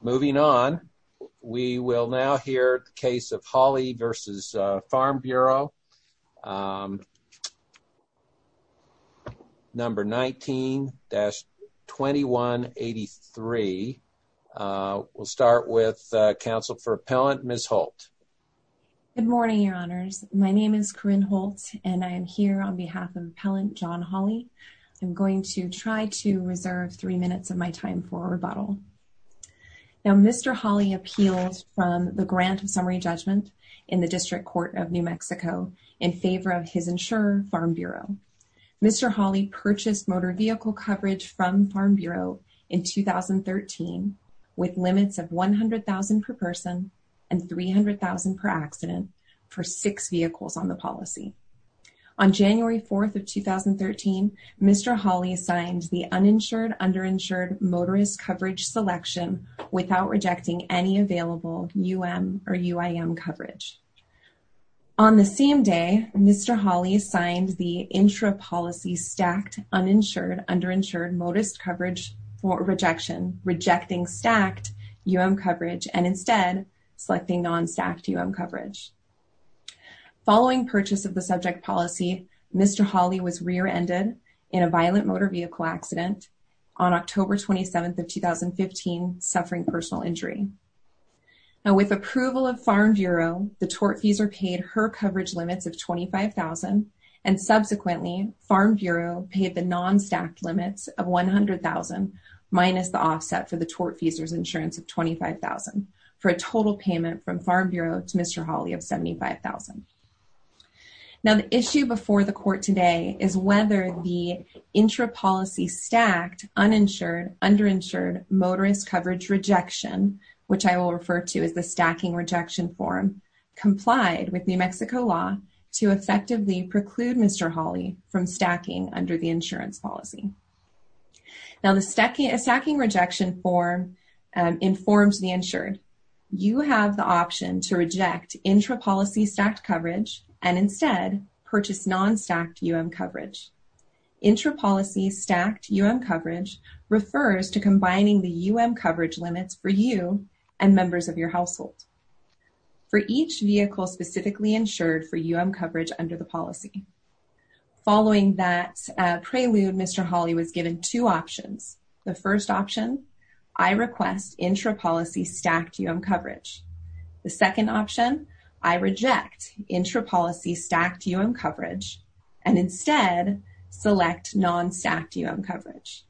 Moving on, we will now hear the case of Hawley v. Farm Bureau, number 19-2183. We'll start with counsel for appellant, Ms. Holt. Good morning, your honors. My name is Corinne Holt and I am here on behalf of appellant John Hawley. I'm going to try to reserve three minutes of my time for a rebuttal. Now, Mr. Hawley appealed from the grant of summary judgment in the District Court of New Mexico in favor of his insurer, Farm Bureau. Mr. Hawley purchased motor vehicle coverage from Farm Bureau in 2013 with limits of $100,000 per person and $300,000 per accident for six vehicles on the policy. On January 4th of 2013, Mr. Hawley signed the uninsured underinsured motorist coverage selection without rejecting any available UM or UIM coverage. On the same day, Mr. Hawley signed the intra policy stacked uninsured underinsured motorist coverage for rejection, rejecting stacked UM coverage and instead selecting non stacked UM coverage. Following purchase of the subject policy, Mr. Hawley was rear ended in a violent motor vehicle accident on October 27th of 2015 suffering personal injury. Now, with approval of Farm Bureau, the tortfeasor paid her coverage limits of $25,000 and subsequently Farm Bureau paid the non stacked limits of $100,000 minus the offset for the tortfeasor's insurance of $25,000 for a total payment from Farm Bureau to Mr. Hawley of $75,000. Now, the question is whether the intra policy stacked uninsured underinsured motorist coverage rejection, which I will refer to as the stacking rejection form complied with New Mexico law to effectively preclude Mr. Hawley from stacking under the insurance policy. Now, the stacking rejection form informs the insured. You have the option to reject intra policy stacked coverage and instead purchase non stacked UM coverage. Intra policy stacked UM coverage refers to combining the UM coverage limits for you and members of your household for each vehicle specifically insured for UM coverage under the policy. Following that prelude, Mr. Hawley was given two options. The first option, I request intra policy stacked UM coverage. The second option, I reject intra policy stacked UM coverage and instead select non stacked UM coverage.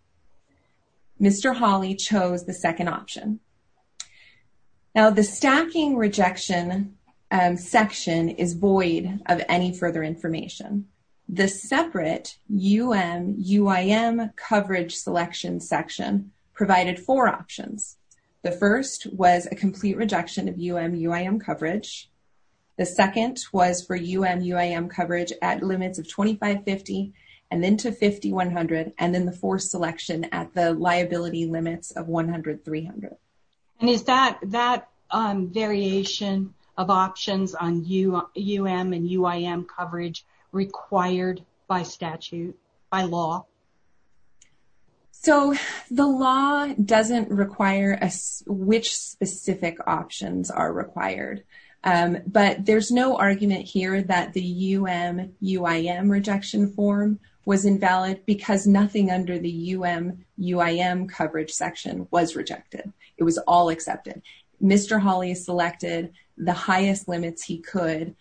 Mr. Hawley chose the second option. Now, the stacking rejection section is void of any further information. The separate UM UIM coverage selection section provided four options. The first was a complete rejection of UM UIM coverage. The second was for UM UIM coverage at limits of $2,550 and then to $5,100 and then the fourth selection at the liability limits of $100-$300. And is that variation of options on UM and UIM coverage required by statute, by law? So, the law doesn't require us which specific options are required, but there's no argument here that the UM UIM rejection form was invalid because nothing under the UM UIM coverage section was rejected. It was all accepted. Mr. Hawley selected the highest limits he could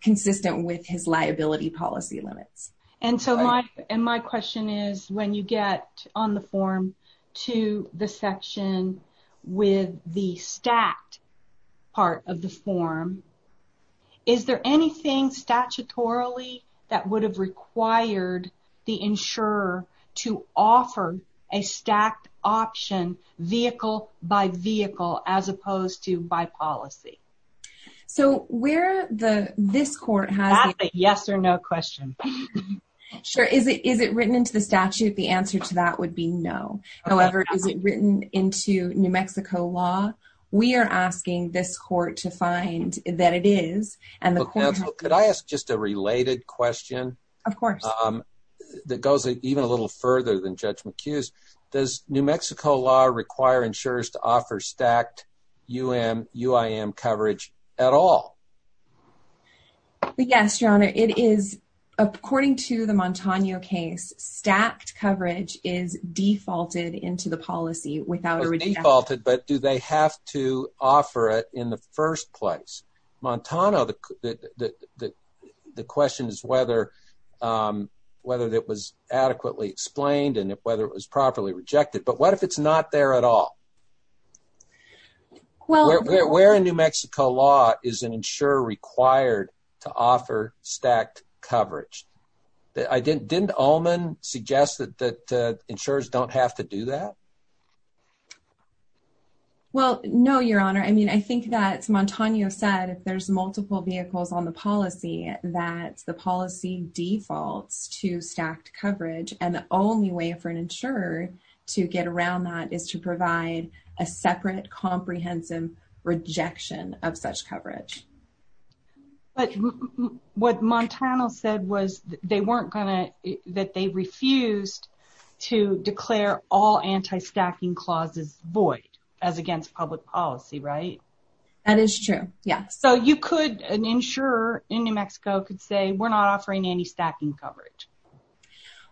consistent with his liability policy limits. And so, my question is when you get on the form to the section with the stacked part of the form, is there anything statutorily that would have required the insurer to offer a stacked option vehicle by vehicle as opposed to by policy? So, where the this court has a yes or no question. Sure, is it is it written into the statute? The answer to that would be no. However, is it written into New Mexico law? We are asking this court to find that it is and the court could I ask just a related question? Of course. That goes even a little further than Judge McHugh's. Does New Mexico law require insurers to offer stacked UM UIM coverage at all? Yes, Your Honor. It is according to the Montano case, stacked coverage is defaulted into the policy without a rejection. Defaulted, but do they have to offer it in the first place? Montano, the question is whether whether it was adequately explained and if whether it was properly rejected. But, what if it's not there at all? Well, where in New Mexico law is an insurer required to offer stacked coverage? Didn't Ullman suggest that insurers don't have to do that? Well, no, Your Honor. I mean, I think that's Montano said if there's policy defaults to stacked coverage and the only way for an insurer to get around that is to provide a separate comprehensive rejection of such coverage. But, what Montano said was they weren't gonna that they refused to declare all anti-stacking clauses void as against public policy, right? That is true, yeah. So, you could an insurer in New Mexico could say we're not offering anti-stacking coverage.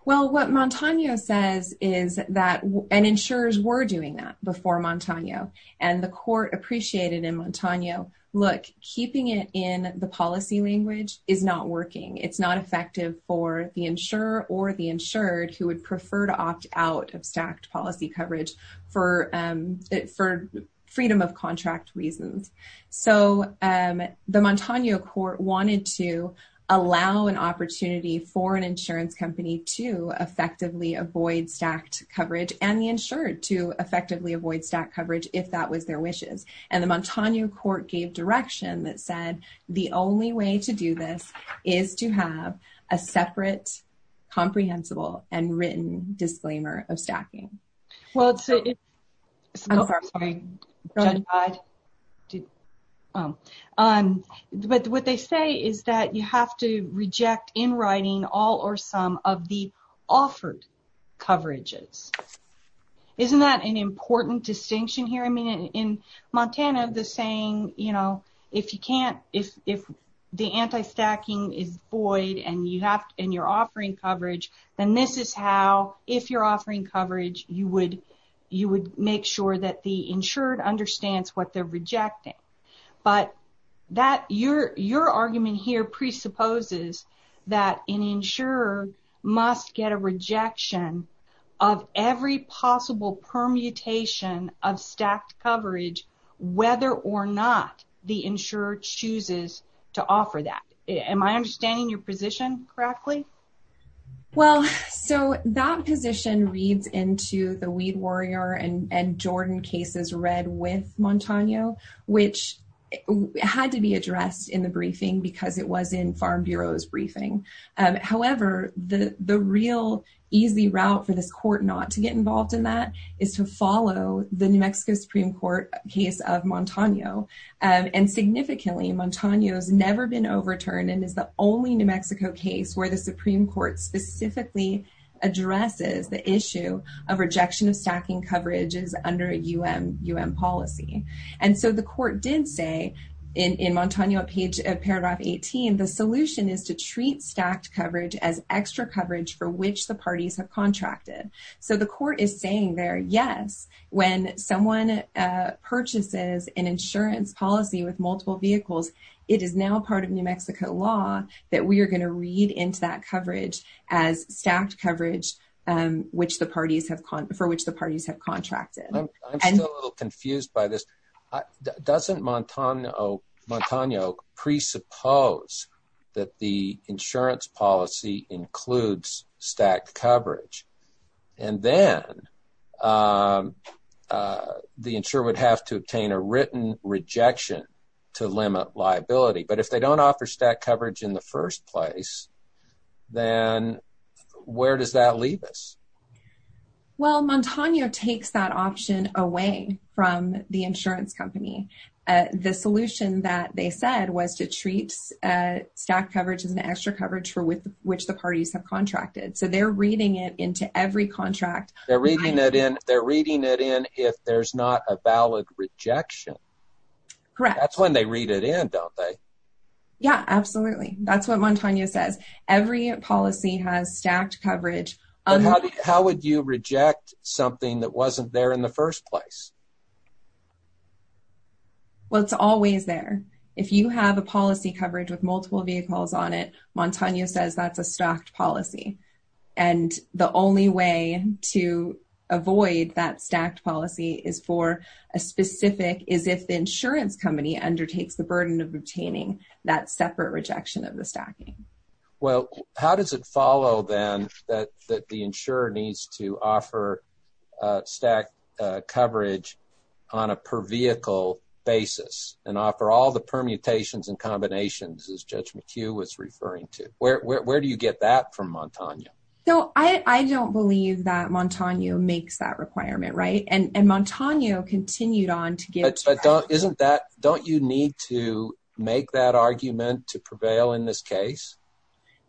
Well, what Montano says is that and insurers were doing that before Montano and the court appreciated in Montano, look, keeping it in the policy language is not working. It's not effective for the insurer or the insured who would prefer to opt out of stacked policy coverage for it for the Montano court wanted to allow an opportunity for an insurance company to effectively avoid stacked coverage and the insured to effectively avoid stacked coverage if that was their wishes and the Montano court gave direction that said the only way to do this is to have a separate comprehensible and written but what they say is that you have to reject in writing all or some of the offered coverages. Isn't that an important distinction here? I mean in Montana the saying you know if you can't if the anti-stacking is void and you have and you're offering coverage then this is how if you're offering coverage you would you would make sure that the insured understands what they're your argument here presupposes that an insurer must get a rejection of every possible permutation of stacked coverage whether or not the insurer chooses to offer that. Am I understanding your position correctly? Well, so that position reads into the Weed Warrior and Jordan cases read with Montano which had to be addressed in the briefing because it was in Farm Bureau's briefing however the the real easy route for this court not to get involved in that is to follow the New Mexico Supreme Court case of Montano and significantly Montano has never been overturned and is the only New Mexico case where the Supreme Court specifically addresses the issue of rejection of stacking coverages under a UM UM policy and so the court did say in in Montano a page of paragraph 18 the solution is to treat stacked coverage as extra coverage for which the parties have contracted. So the court is saying there yes when someone purchases an insurance policy with multiple vehicles it is now part of New Mexico law that we are going to read into that coverage as stacked coverage and which the parties have for which the parties have contracted. I'm confused by this doesn't Montano Montano presuppose that the insurance policy includes stacked coverage and then the insurer would have to obtain a written rejection to limit liability but if they don't offer stacked coverage in the first place then where does that leave us? Well Montano takes that option away from the insurance company. The solution that they said was to treat stacked coverage as an extra coverage for with which the parties have contracted so they're reading it into every contract. They're reading it in they're reading it in if there's not a valid rejection. Correct. That's when they read it in don't they? Yeah absolutely that's what Montano says every policy has stacked coverage. How would you reject something that wasn't there in the first place? Well it's always there if you have a policy coverage with multiple vehicles on it Montano says that's a stacked policy and the only way to avoid that stacked policy is for a specific is if the insurance company undertakes the burden of obtaining that separate rejection of the stacking. Well how does it follow then that the insurer needs to offer stacked coverage on a per vehicle basis and offer all the permutations and combinations as Judge McHugh was referring to? Where do you get that from Montano? So I don't believe that Montano makes that requirement right and and Montano continued on to give isn't that don't you need to make that argument to prevail in this case?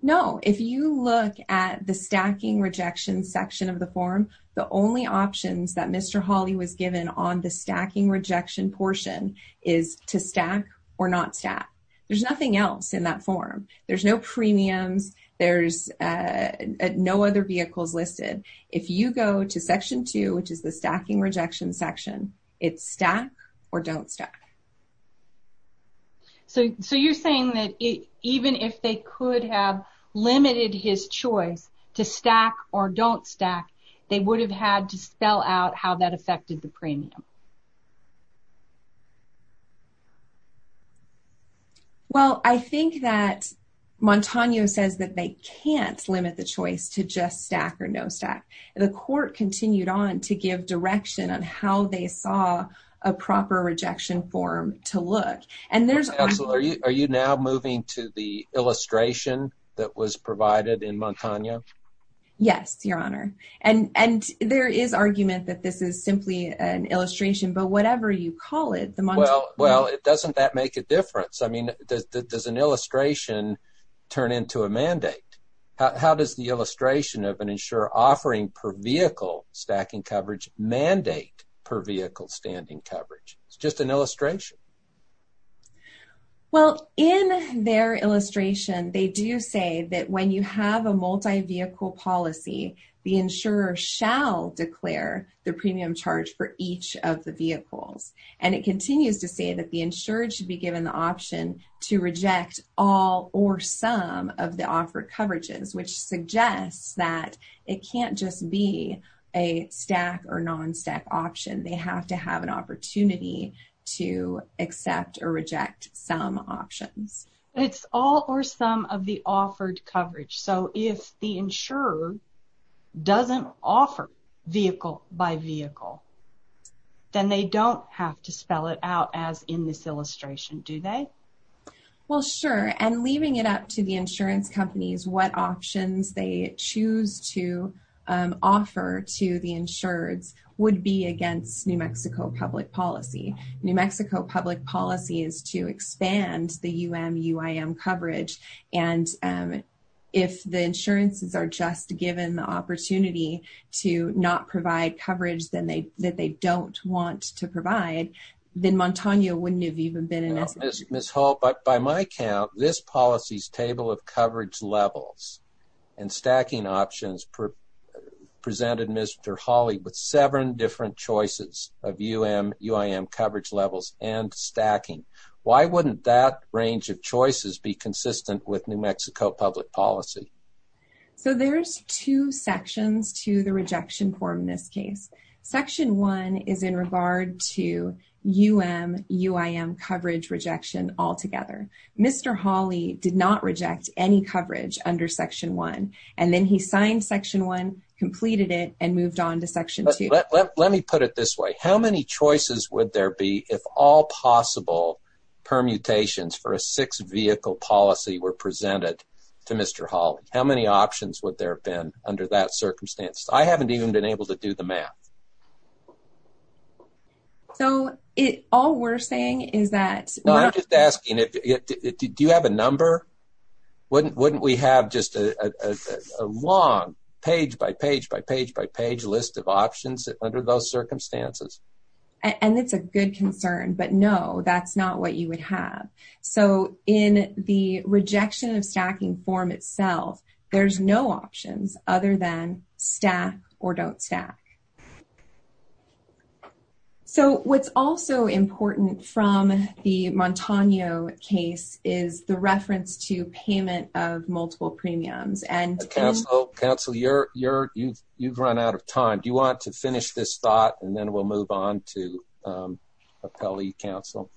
No if you look at the stacking rejection section of the form the only options that Mr. Hawley was given on the stacking rejection portion is to stack or not stack. There's nothing else in that form there's no premiums there's no other vehicles listed. If you go to section 2 which is the stacking rejection section it's stack or don't stack. So you're saying that even if they could have limited his choice to stack or don't stack they would have had to spell out how that affected the premium? Well I think that Montano says that they can't limit the choice to just stack or no stack. The court continued on to give direction on how they saw a proper rejection form to look and there's. Are you now moving to the illustration that was provided in Montano? Yes your honor and and there is argument that this is simply an illustration but whatever you call it. Well well it doesn't that make a I mean there's an illustration turn into a mandate. How does the illustration of an insurer offering per vehicle stacking coverage mandate per vehicle standing coverage? It's just an illustration. Well in their illustration they do say that when you have a multi-vehicle policy the insurer shall declare the premium charge for each of the vehicles and it continues to say that the insured should be given the option to reject all or some of the offered coverages which suggests that it can't just be a stack or non stack option. They have to have an opportunity to accept or reject some options. It's all or some of the offered coverage so if the insurer doesn't offer vehicle by vehicle then they don't have to spell it out as in this illustration do they? Well sure and leaving it up to the insurance companies what options they choose to offer to the insureds would be against New Mexico public policy. New Mexico public policy is to expand the UM-UIM coverage and if the insurances are just given the opportunity to not provide coverage then they that they don't want to provide then Montaño wouldn't have even been an issue. Ms. Hall but by my count this policy's table of coverage levels and stacking options presented Mr. Hawley with seven different choices of UM-UIM coverage levels and stacking. Why wouldn't that range of choices be consistent with New Mexico public policy? So there's two sections to the rejection form in this case. Section one is in UM-UIM coverage rejection altogether. Mr. Hawley did not reject any coverage under section one and then he signed section one completed it and moved on to section two. Let me put it this way how many choices would there be if all possible permutations for a six vehicle policy were presented to Mr. Hawley? How many options would there have been under that circumstance? I haven't even been able to do the math. So it all we're saying is that no I'm just asking it do you have a number? Wouldn't wouldn't we have just a long page by page by page by page list of options under those circumstances? And it's a good concern but no that's not what you would have. So in the rejection of stacking form there's no options other than stack or don't stack. So what's also important from the Montano case is the reference to payment of multiple premiums and counsel counsel you're you're you've you've run out of time do you want to finish this thought and then we'll move on to appellee counsel.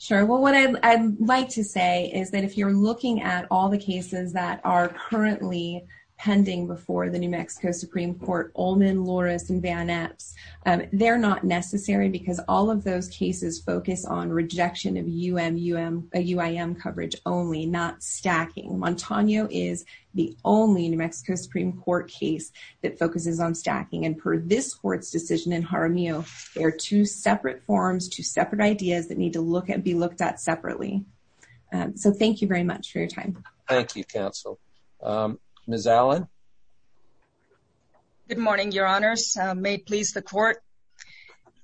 Sure thank you very much for your time thank you very much for your time and I'm going to turn it over to Mr. Hawley to talk about some of the cases that are currently pending before the New Mexico Supreme Court Olman, Loris, and Van Epps they're not necessary because all of those cases focus on rejection of UMUM a UIM coverage only not stacking. Montano is the only New Mexico Supreme Court case that focuses on stacking and per this court's decision in Jaramillo there are two separate forms two separate ideas that need to look at be looked at separately. So thank you very much for your time. Thank you counsel. Ms. Allen. Good morning your honors may please the court.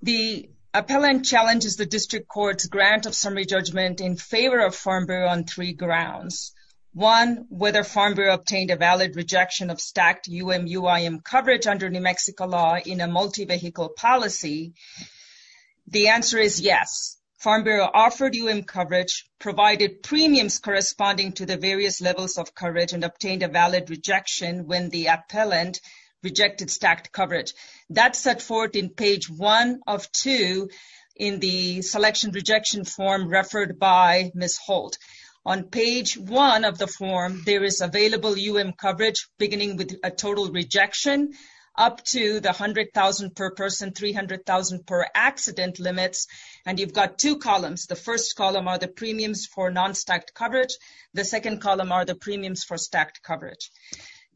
The appellant challenges the district courts grant of summary judgment in favor of Farm Bureau on three grounds. One whether Farm Bureau obtained a valid rejection of stacked UMUM coverage under New Mexico law in a multi-vehicle policy. The answer is yes. Farm Bureau offered UMUM coverage provided premiums corresponding to the various levels of coverage and obtained a valid rejection when the appellant rejected stacked coverage. That set forth in page 1 of 2 in the selection rejection form referred by Ms. Holt. On page 1 of the form there is available UMUM coverage beginning with a total rejection up to the hundred thousand per person three hundred thousand per accident limits and you've got two columns. The first column are the premiums for non-stacked coverage. The second column are the premiums for stacked coverage.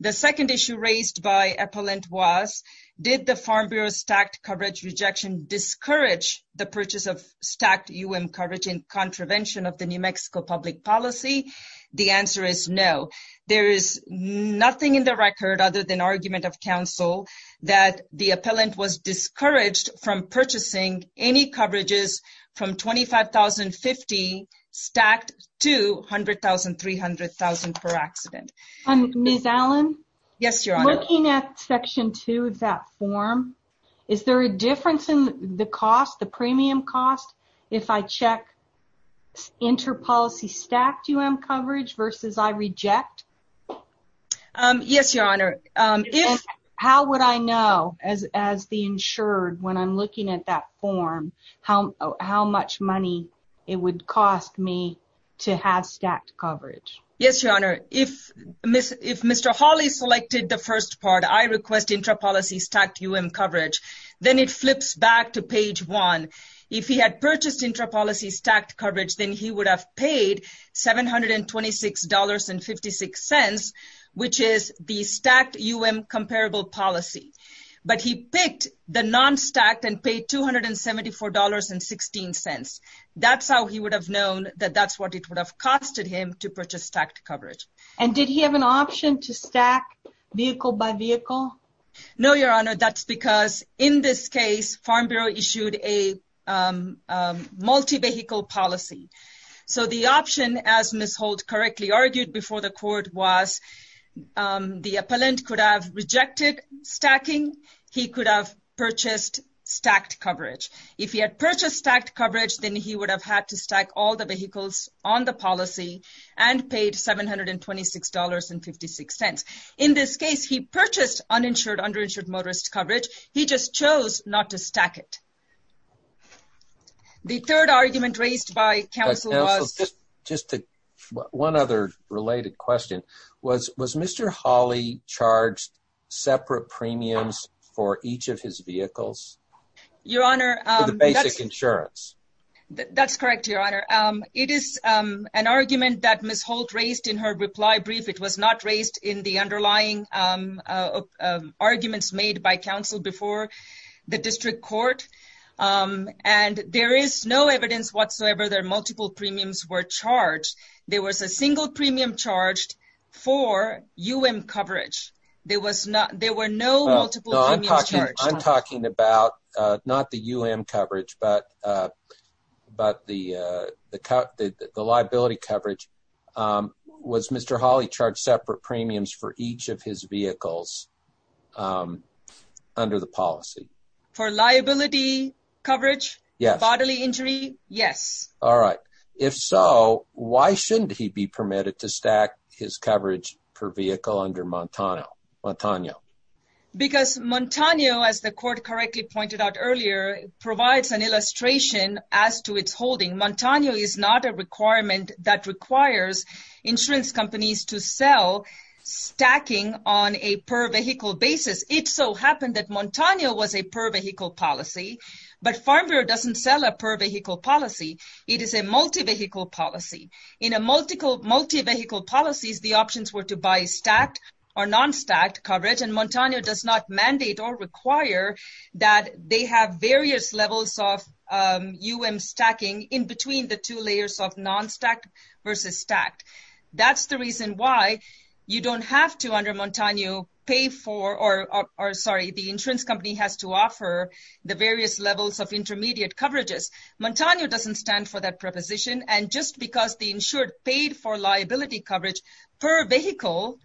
The second issue raised by appellant was did the Farm Bureau stacked coverage rejection discourage the purchase of stacked UMUM coverage in contravention of the New Mexico public policy? The answer is no. There is nothing in the record other than argument of counsel that the appellant was discouraged from purchasing any coverages from twenty five thousand fifty stacked to hundred thousand three hundred thousand per accident. Ms. Allen? Yes your honor. Looking at section 2 of that form is there a difference in the cost the premium cost if I check inter-policy stacked UM coverage versus I reject? Yes your honor. How would I know as the insured when I'm looking at that form how much money it would cost me to have stacked coverage? Yes your honor. If Mr. Hawley selected the first part I request inter-policy stacked UM coverage then it flips back to page 1. If he had selected the non-stacked he would have paid seven hundred and twenty six dollars and fifty six cents which is the stacked UM comparable policy. But he picked the non-stacked and paid two hundred and seventy four dollars and sixteen cents. That's how he would have known that that's what it would have costed him to purchase stacked coverage. And did he have an option to stack vehicle by vehicle? No your honor. That's because in this case Farm Bureau issued a multi-vehicle policy. So the option as Ms. Holt correctly argued before the court was the appellant could have rejected stacking. He could have purchased stacked coverage. If he had purchased stacked coverage then he would have had to stack all the vehicles on the policy and paid seven hundred and twenty six dollars and fifty six cents. In this case he purchased uninsured underinsured motorist coverage. He just chose not to stack it. The third argument raised by counsel was just one other related question. Was was Mr. Hawley charged separate premiums for each of his vehicles? Your honor. The basic insurance. That's correct your honor. It is an argument that Ms. Holt raised in her reply brief. It was not raised in the arguments made by counsel before the district court. And there is no evidence whatsoever that multiple premiums were charged. There was a single premium charged for UM coverage. There was not there were no multiple. I'm talking about not the UM coverage but but the the liability coverage. Was Mr. Hawley charged separate premiums for each of his vehicles under the policy? For liability coverage? Yes. Bodily injury? Yes. All right. If so why shouldn't he be permitted to stack his coverage per vehicle under Montano? Montano. Because Montano as the court correctly pointed out earlier provides an illustration as to its holding. Montano is not a requirement that requires insurance companies to sell stacking on a per vehicle basis. It so happened that Montano was a per vehicle policy. But Farm Bureau doesn't sell a per vehicle policy. It is a multi vehicle policy. In a multiple multi vehicle policies the options were to buy stacked or non stacked coverage. And Montano does not mandate or require that they have various levels of UM stacking in the two layers of non stacked versus stacked. That's the reason why you don't have to under Montano pay for or sorry the insurance company has to offer the various levels of intermediate coverages. Montano doesn't stand for that proposition and just because the insured paid for liability coverage per vehicle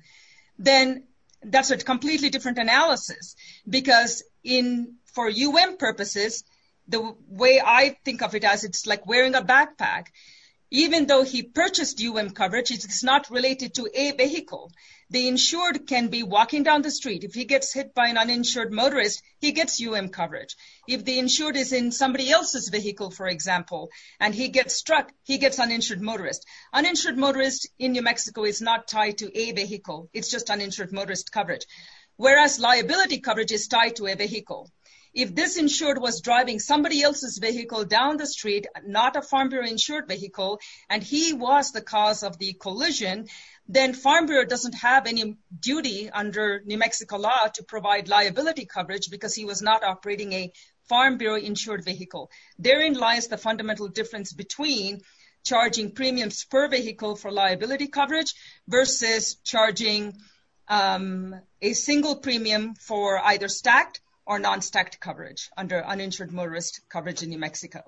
then that's a completely different analysis. Because in for UM purposes the way I think of it as it's like wearing a backpack even though he purchased UM coverage it's not related to a vehicle. The insured can be walking down the street if he gets hit by an uninsured motorist he gets UM coverage. If the insured is in somebody else's vehicle for example and he gets struck he gets uninsured motorist. Uninsured motorist in New Mexico is not tied to a vehicle it's just uninsured motorist coverage. Whereas liability coverage is tied to a vehicle down the street not a Farm Bureau insured vehicle and he was the cause of the collision then Farm Bureau doesn't have any duty under New Mexico law to provide liability coverage because he was not operating a Farm Bureau insured vehicle. Therein lies the fundamental difference between charging premiums per vehicle for liability coverage versus charging a single premium for either stacked or non stacked coverage under uninsured motorist coverage in New Mexico.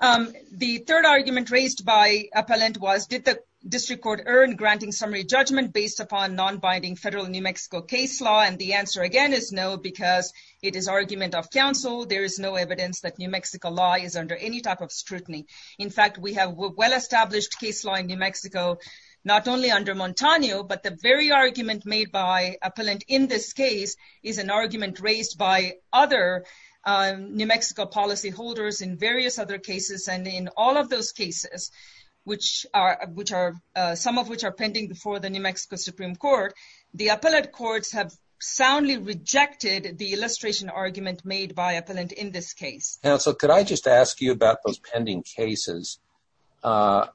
The third argument raised by appellant was did the district court earn granting summary judgment based upon non-binding federal New Mexico case law and the answer again is no because it is argument of counsel there is no evidence that New Mexico law is under any type of scrutiny. In fact we have well established case law in New Mexico not only under Montano but the very argument made by appellant in this case is an New Mexico policyholders in various other cases and in all of those cases which are which are some of which are pending before the New Mexico Supreme Court the appellate courts have soundly rejected the illustration argument made by appellant in this case. Counsel could I just ask you about those pending cases I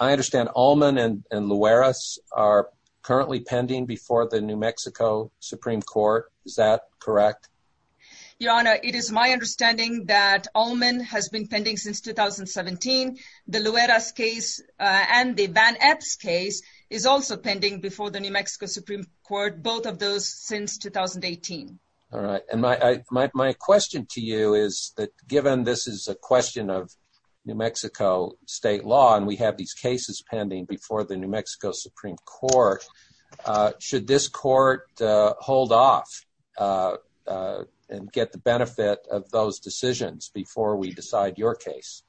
understand Allman and Luares are currently pending before the New Mexico Supreme Court is that correct? Your honor it is my understanding that Allman has been pending since 2017 the Luares case and the Van Epps case is also pending before the New Mexico Supreme Court both of those since 2018. All right and my question to you is that given this is a question of New Mexico state law and we have these cases pending before the New Mexico Supreme Court should this court hold off and get the benefit of those decisions before we decide your case?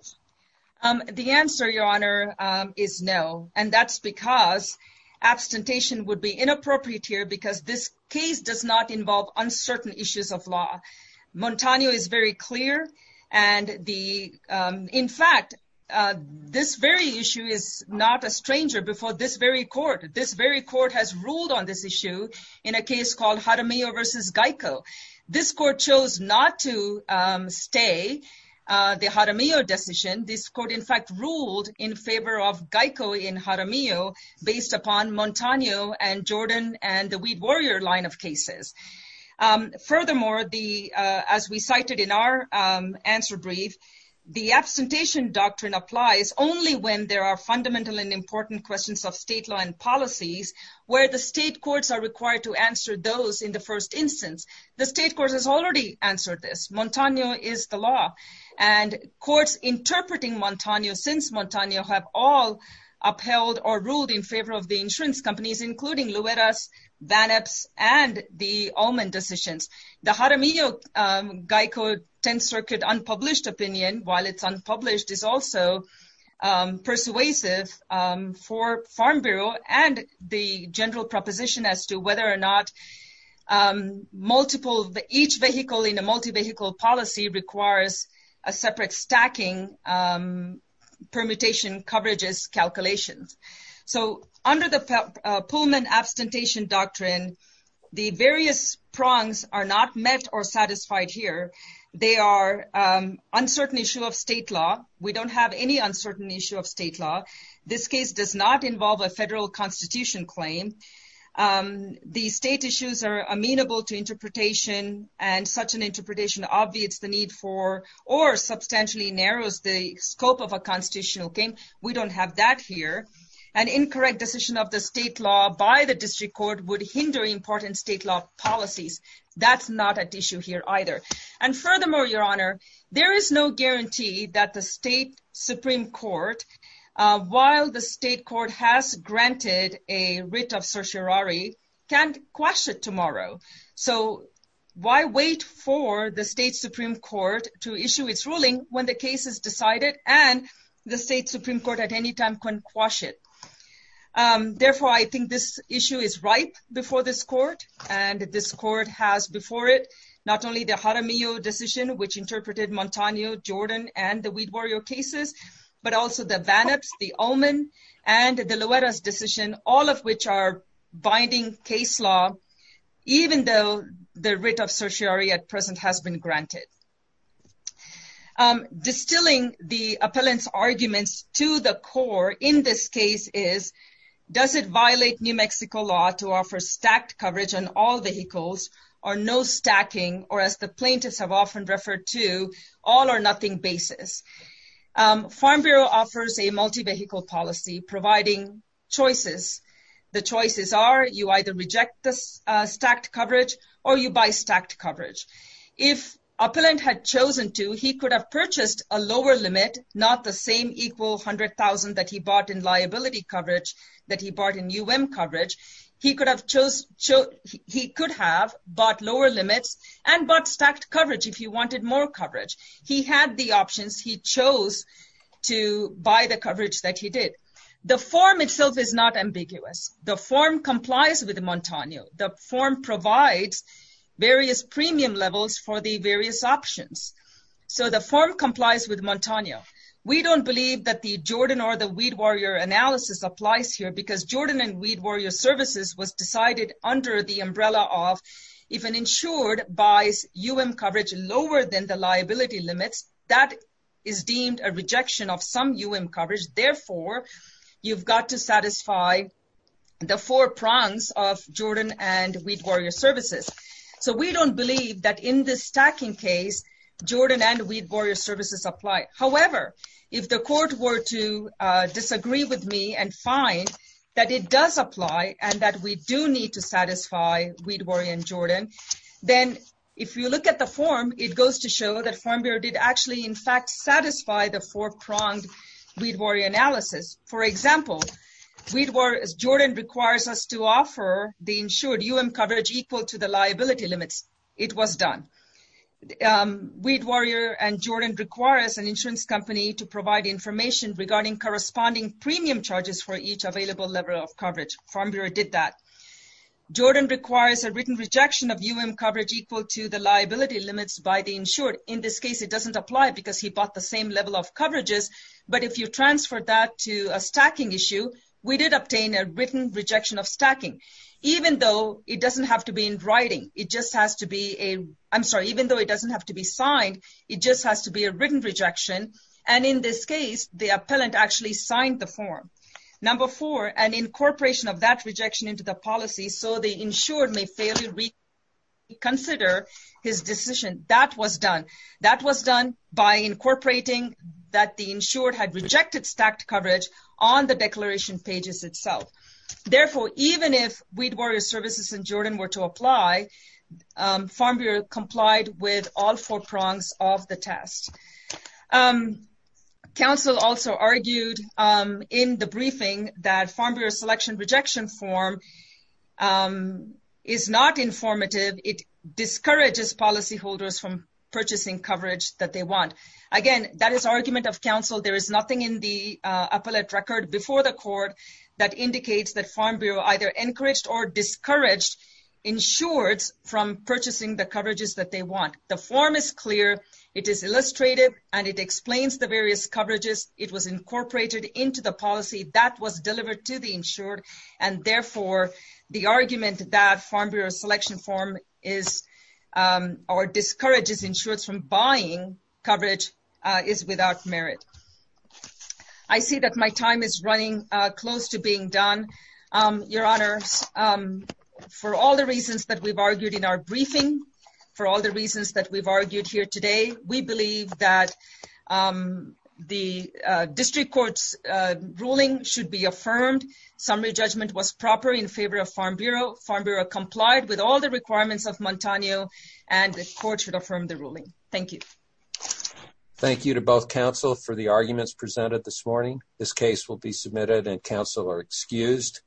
The answer your honor is no and that's because abstentation would be inappropriate here because this case does not involve uncertain issues of law Montano is very clear and the in fact this very issue is not a stranger before this very court this very court has ruled on this issue in a case called Jaramillo versus Geico this court chose not to stay the Jaramillo decision this court in fact ruled in favor of Geico in Jaramillo based upon Montano and Jordan and the weed warrior line of cases furthermore the as we cited in our answer brief the absentation doctrine applies only when there are fundamental and important questions of state law and policies where the state courts are required to answer those in the first instance the state court has already answered this Montano is the law and courts interpreting Montano since Montano have all upheld or ruled in favor of the insurance companies including Luedas Van Epps and the almond decisions the Jaramillo Geico 10th for Farm Bureau and the general proposition as to whether or not multiple each vehicle in a multi-vehicle policy requires a separate stacking permutation coverages calculations so under the Pullman abstentation doctrine the various prongs are not met or satisfied here they are uncertain issue of state law this case does not involve a federal constitution claim the state issues are amenable to interpretation and such an interpretation obviates the need for or substantially narrows the scope of a constitutional game we don't have that here an incorrect decision of the state law by the district court would hinder important state law policies that's not an issue here either and furthermore your honor there is no guarantee that the state Supreme Court while the state court has granted a writ of certiorari can't quash it tomorrow so why wait for the state Supreme Court to issue its ruling when the case is decided and the state Supreme Court at any time can't quash it therefore I think this issue is ripe before this court and this court has before it not only the Jaramillo decision which interpreted Montaño Jordan and the Weed Warrior cases but also the bannocks the omen and the Loretta's decision all of which are binding case law even though the writ of certiorari at present has been granted distilling the appellants arguments to the core in this case is does it violate New Mexico law to offer stacked coverage on all vehicles or no stacking or as the plaintiffs have often referred to all or nothing basis Farm Bureau offers a multi-vehicle policy providing choices the choices are you either reject this stacked coverage or you buy stacked coverage if appellant had chosen to he could have purchased a lower limit not the same equal hundred thousand that he bought in liability coverage that he chose so he could have bought lower limits and but stacked coverage if you wanted more coverage he had the options he chose to buy the coverage that he did the form itself is not ambiguous the form complies with Montaño the form provides various premium levels for the various options so the form complies with Montaño we don't believe that the Jordan or the Weed Warrior analysis applies here because Jordan and Weed Warrior services was decided under the umbrella of if an insured buys UM coverage lower than the liability limits that is deemed a rejection of some UM coverage therefore you've got to satisfy the four prongs of Jordan and Weed Warrior services so we don't believe that in this stacking case Jordan and Weed Warrior services apply however if the court were to disagree with me and find that it does apply and that we do need to satisfy Weed Warrior and Jordan then if you look at the form it goes to show that Farm Bureau did actually in fact satisfy the four pronged Weed Warrior analysis for example Weed Warrior as Jordan requires us to offer the insured UM coverage equal to the liability limits it was done Weed Warrior insurance company to provide information regarding corresponding premium charges for each available level of coverage Farm Bureau did that Jordan requires a written rejection of UM coverage equal to the liability limits by the insured in this case it doesn't apply because he bought the same level of coverages but if you transfer that to a stacking issue we did obtain a written rejection of stacking even though it doesn't have to be in writing it just has to be a I'm sorry even though it doesn't have to be signed it just has to be a written rejection and in this case the appellant actually signed the form number four and incorporation of that rejection into the policy so the insured may fairly reconsider his decision that was done that was done by incorporating that the insured had rejected stacked coverage on the declaration pages itself therefore even if Weed Warrior services and Jordan were to apply Farm Bureau complied with all four prongs of the test council also argued in the briefing that Farm Bureau selection rejection form is not informative it discourages policyholders from purchasing coverage that they want again that is argument of council there is nothing in the appellate record before the court that indicates that Farm Bureau either encouraged or insured from purchasing the coverages that they want the form is clear it is illustrated and it explains the various coverages it was incorporated into the policy that was delivered to the insured and therefore the argument that Farm Bureau selection form is or discourages insured from buying coverage is without merit I see that my time is running close to being done your honor for all the reasons that we've argued in our briefing for all the reasons that we've argued here today we believe that the district courts ruling should be affirmed summary judgment was proper in favor of Farm Bureau Farm Bureau complied with all the requirements of Montano and the court should affirm the ruling thank you thank you to both counsel for the arguments presented this morning this case will be submitted and counsel are excused